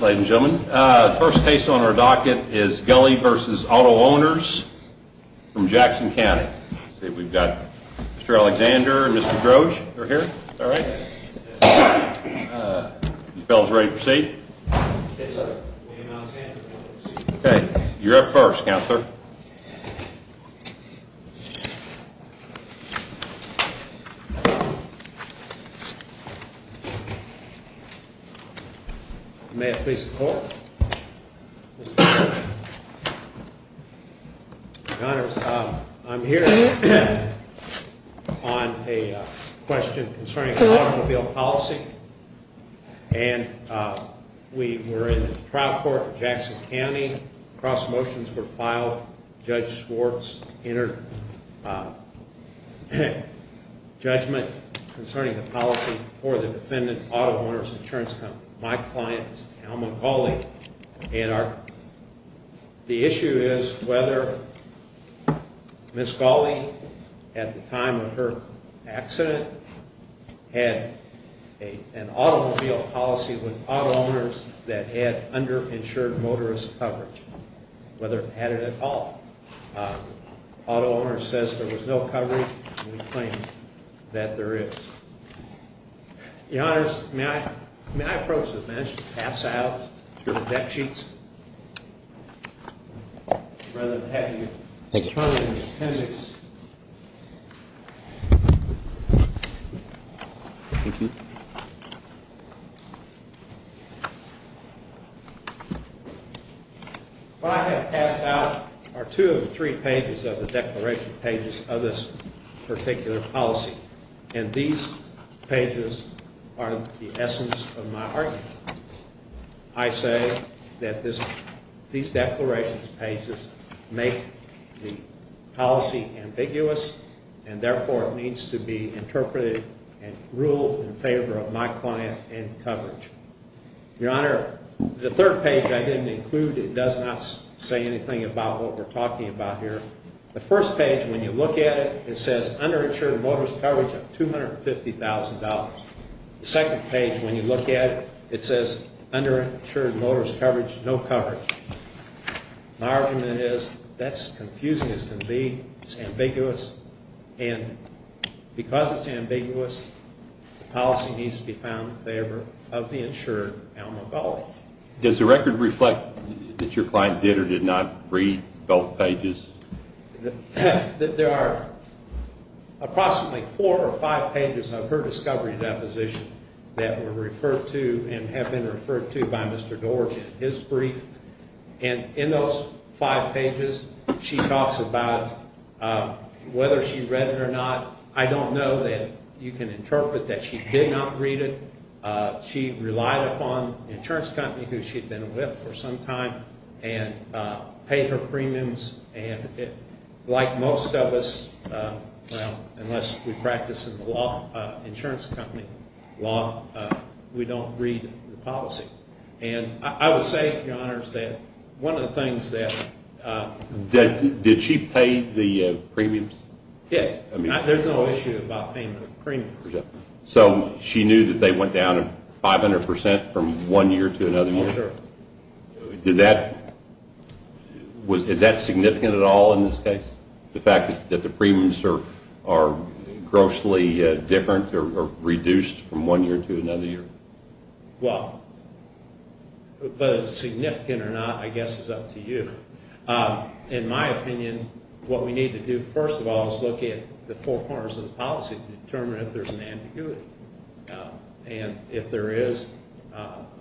Ladies and gentlemen, the first case on our docket is Gulley v. Auto-Owners from Jackson County. Let's see, we've got Mr. Alexander and Mr. Groge are here. All right. You fellas ready to proceed? Yes, sir. You're up first, counselor. Thank you, sir. May I please call? I'm here on a question concerning automobile policy, and we were in the trial court in Jackson County. Cross motions were filed. Judge Schwartz entered judgment concerning the policy for the defendant, Auto-Owners Insurance Company. My client is Alma Gulley, and the issue is whether Ms. Gulley, at the time of her accident, had an automobile policy with auto-owners that had underinsured motorist coverage, whether it had it at all. Auto-Owners says there was no coverage, and we claim that there is. Your Honors, may I approach the bench to pass out your deck sheets? Rather than having you turn them in the appendix. Thank you. What I have passed out are two of the three pages of the declaration pages of this particular policy, and these pages are the essence of my argument. I say that these declaration pages make the policy ambiguous, and therefore it needs to be interpreted and ruled in favor of my client and coverage. Your Honor, the third page I didn't include, it does not say anything about what we're talking about here. The first page, when you look at it, it says underinsured motorist coverage of $250,000. The second page, when you look at it, it says underinsured motorist coverage, no coverage. My argument is that's confusing as can be, it's ambiguous, and because it's ambiguous, the policy needs to be found in favor of the insured alma mater. Does the record reflect that your client did or did not read both pages? There are approximately four or five pages of her discovery deposition that were referred to and have been referred to by Mr. Doerge in his brief, and in those five pages, she talks about whether she read it or not. I don't know that you can interpret that she did not read it. She relied upon the insurance company who she'd been with for some time and paid her premiums, and like most of us, unless we practice in the law, insurance company law, we don't read the policy, and I would say, Your Honors, that one of the things that Did she pay the premiums? Yes, there's no issue about payment of premiums. So she knew that they went down 500% from one year to another year? Yes, sir. Is that significant at all in this case, the fact that the premiums are grossly different or reduced from one year to another year? Well, whether it's significant or not, I guess it's up to you. In my opinion, what we need to do first of all is look at the four corners of the policy and determine if there's an ambiguity, and if there is,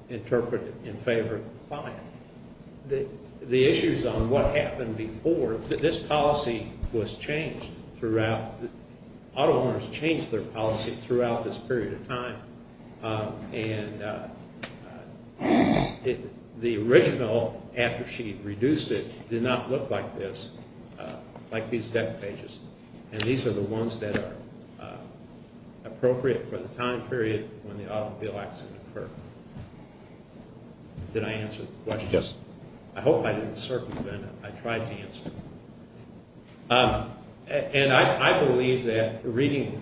interpret it in favor of the client. The issues on what happened before, this policy was changed throughout. Auto owners change their policy throughout this period of time, and the original, after she reduced it, did not look like this, like these deck pages, and these are the ones that are appropriate for the time period when the automobile accident occurred. Did I answer the question? Yes. I hope I didn't circumvent it. I tried to answer it. And I believe that reading,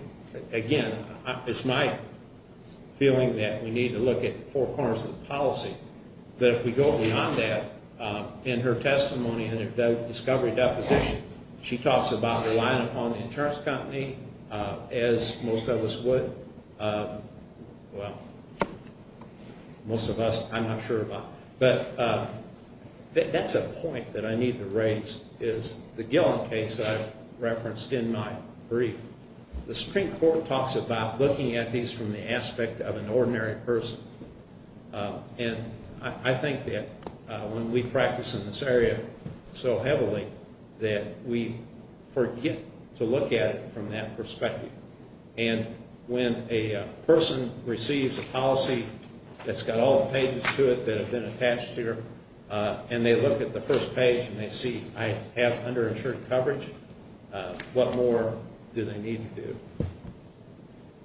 again, it's my feeling that we need to look at the four corners of the policy, that if we go beyond that, in her testimony, in her discovery deposition, she talks about relying upon the insurance company as most of us would. Well, most of us, I'm not sure about. But that's a point that I need to raise is the Gillen case that I referenced in my brief. The Supreme Court talks about looking at these from the aspect of an ordinary person, and I think that when we practice in this area so heavily that we forget to look at it from that perspective. And when a person receives a policy that's got all the pages to it that have been attached here, and they look at the first page and they see I have underinsured coverage, what more do they need to do?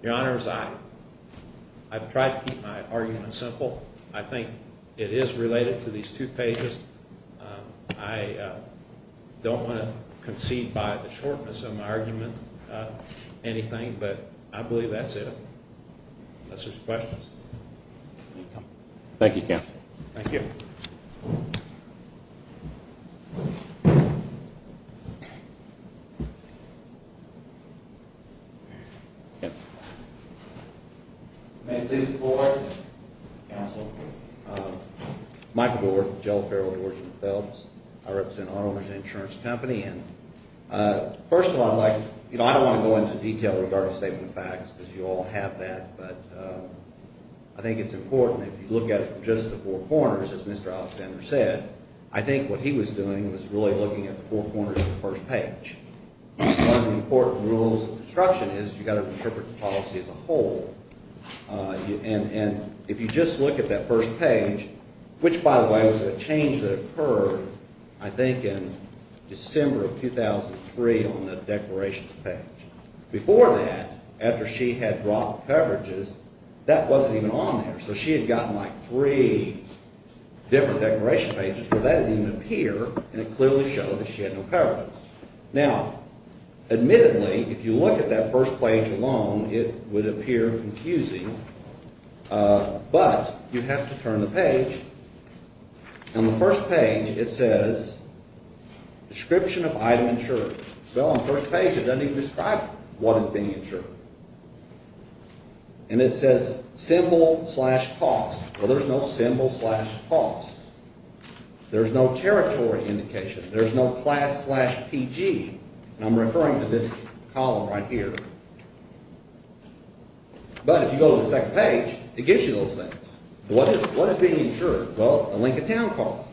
Your Honors, I've tried to keep my argument simple. I think it is related to these two pages. I don't want to concede by the shortness of my argument anything, but I believe that's it unless there's questions. Thank you, Counsel. Thank you. Yes. May I please report, Counsel? Michael Doerf, Jell Farrell, Doerf and Phelps. I represent an auto insurance company. First of all, I don't want to go into detail with regard to statement of facts because you all have that, but I think it's important if you look at it from just the four corners, as Mr. Alexander said, I think what he was doing was really looking at the four corners of the first page. One of the important rules of construction is you've got to interpret the policy as a whole, and if you just look at that first page, which, by the way, was a change that occurred, I think, in December of 2003 on the declaration page. Before that, after she had dropped coverages, that wasn't even on there, so she had gotten like three different declaration pages where that didn't even appear, and it clearly showed that she had no coverage. Now, admittedly, if you look at that first page alone, it would appear confusing, but you have to turn the page. On the first page, it says description of item insured. Well, on the first page, it doesn't even describe what is being insured, and it says symbol slash cost, but there's no symbol slash cost. There's no territory indication. There's no class slash PG, and I'm referring to this column right here. But if you go to the second page, it gives you those things. What is being insured? Well, the Lincoln Town car,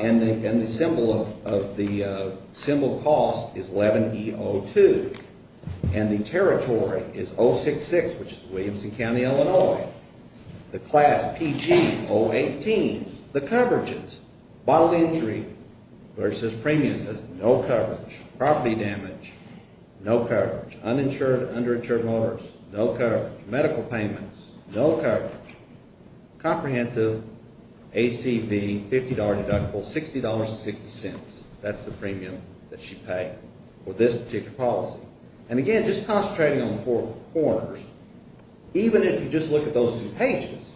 and the symbol cost is 11E02, and the territory is 066, which is Williamson County, Illinois. The class PG 018, the coverages, bodily injury, versus premiums. It says no coverage, property damage, no coverage, uninsured, underinsured motors, no coverage, medical payments, no coverage, comprehensive ACV, $50 deductible, $60.60. That's the premium that she paid for this particular policy. And again, just concentrating on the four corners, even if you just look at those two pages,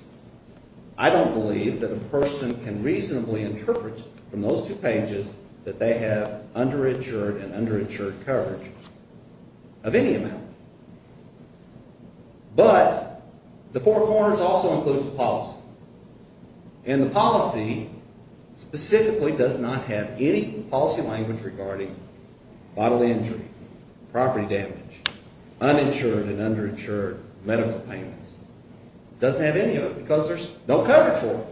I don't believe that a person can reasonably interpret from those two pages that they have underinsured and underinsured coverage of any amount. But the four corners also includes the policy, and the policy specifically does not have any policy language regarding bodily injury, property damage, uninsured and underinsured medical payments. It doesn't have any of it because there's no coverage for it.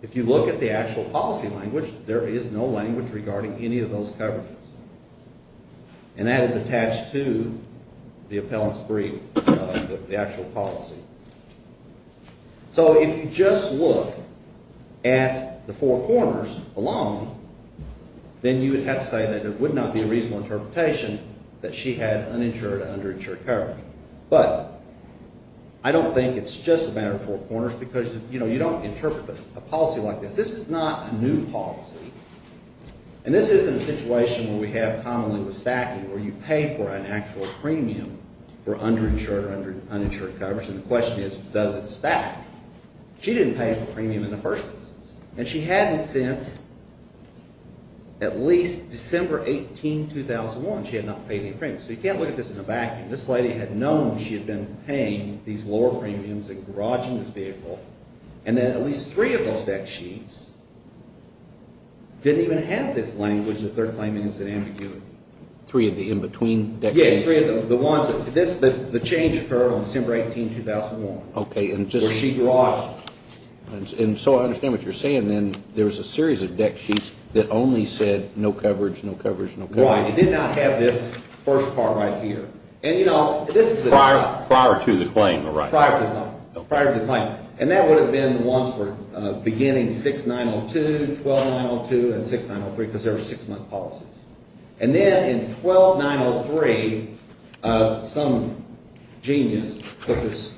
If you look at the actual policy language, there is no language regarding any of those coverages. And that is attached to the appellant's brief, the actual policy. So if you just look at the four corners alone, then you would have to say that it would not be a reasonable interpretation that she had uninsured and underinsured coverage. But I don't think it's just a matter of four corners because, you know, you don't interpret a policy like this. This is not a new policy. And this isn't a situation where we have commonly with stacking where you pay for an actual premium for underinsured or underinsured coverage, and the question is, does it stack? She didn't pay for premium in the first place. And she hadn't since at least December 18, 2001. She had not paid any premium. So you can't look at this in a vacuum. This lady had known she had been paying these lower premiums and garaging this vehicle, and then at least three of those deck sheets didn't even have this language that they're claiming is an ambiguity. Three of the in-between deck sheets? Yes, three of the ones. The change occurred on December 18, 2001. Okay, and just... Where she garaged. And so I understand what you're saying then. There was a series of deck sheets that only said no coverage, no coverage, no coverage. Right. It did not have this first part right here. And, you know, this is... Prior to the claim, right? Prior to the claim. And that would have been the ones for beginning 6902, 12902, and 6903 because there were six-month policies. And then in 12903, some genius put this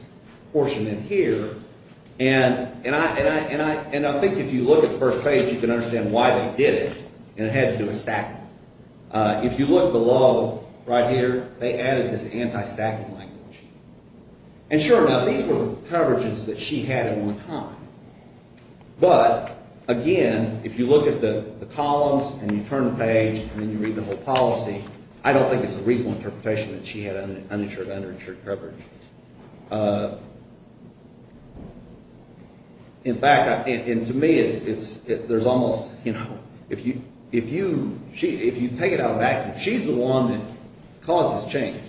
portion in here. And I think if you look at the first page, you can understand why they did it. And it had to do with stacking. If you look below right here, they added this anti-stacking language. And sure, now, these were coverages that she had at one time. But, again, if you look at the columns and you turn the page and then you read the whole policy, I don't think it's a reasonable interpretation that she had uninsured to uninsured coverage. In fact, and to me, there's almost, you know, if you take it out of vacuum, she's the one that caused this change.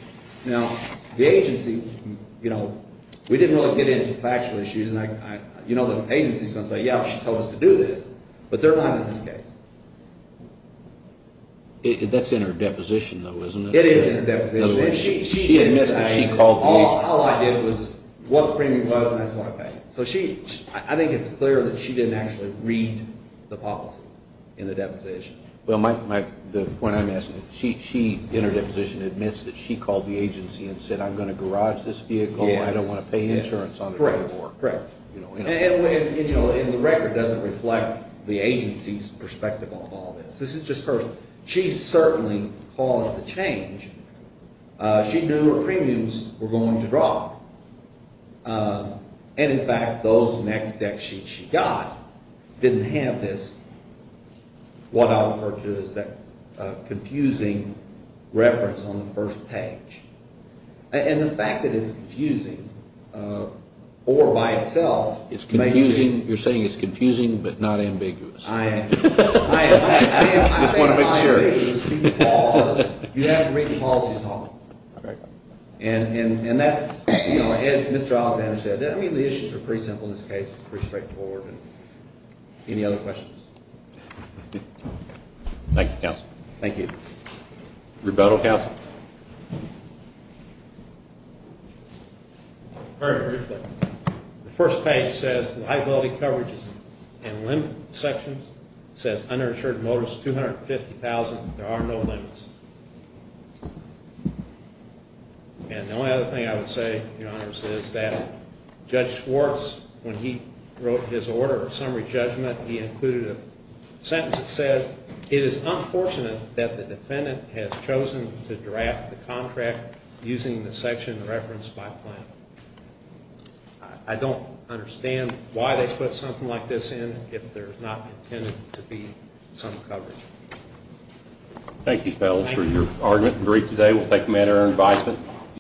Now, the agency, you know, we didn't really get into factual issues. You know, the agency is going to say, yeah, she told us to do this. But they're not in this case. That's in her deposition, though, isn't it? It is in her deposition. In other words, she admits that she called the agency. All I did was what the premium was, and that's what I paid. So I think it's clear that she didn't actually read the policy in the deposition. Well, the point I'm asking, she, in her deposition, admits that she called the agency and said, I'm going to garage this vehicle. I don't want to pay insurance on the way to work. Correct. And, you know, the record doesn't reflect the agency's perspective on all this. This is just her. She certainly caused the change. She knew her premiums were going to drop. And, in fact, those next deck sheets she got didn't have this, what I'll refer to as that confusing reference on the first page. And the fact that it's confusing, or by itself, It's confusing. You're saying it's confusing but not ambiguous. I am. I am. I just want to make sure. I'm saying it's not ambiguous because you have to read the policy as a whole. Okay. And that's, you know, as Mr. Alexander said, I mean, the issues are pretty simple in this case. It's pretty straightforward. Any other questions? Thank you, counsel. Thank you. Rebuttal, counsel. Very briefly, the first page says liability coverage and limit sections. It says uninsured motors, 250,000. There are no limits. And the only other thing I would say, Your Honors, is that Judge Schwartz, when he wrote his order of summary judgment, he included a sentence that said, It is unfortunate that the defendant has chosen to draft the contract using the section referenced by plan. I don't understand why they put something like this in if there's not intended to be some coverage. Thank you, fellas, for your argument and brief today. We'll take them at our advisement.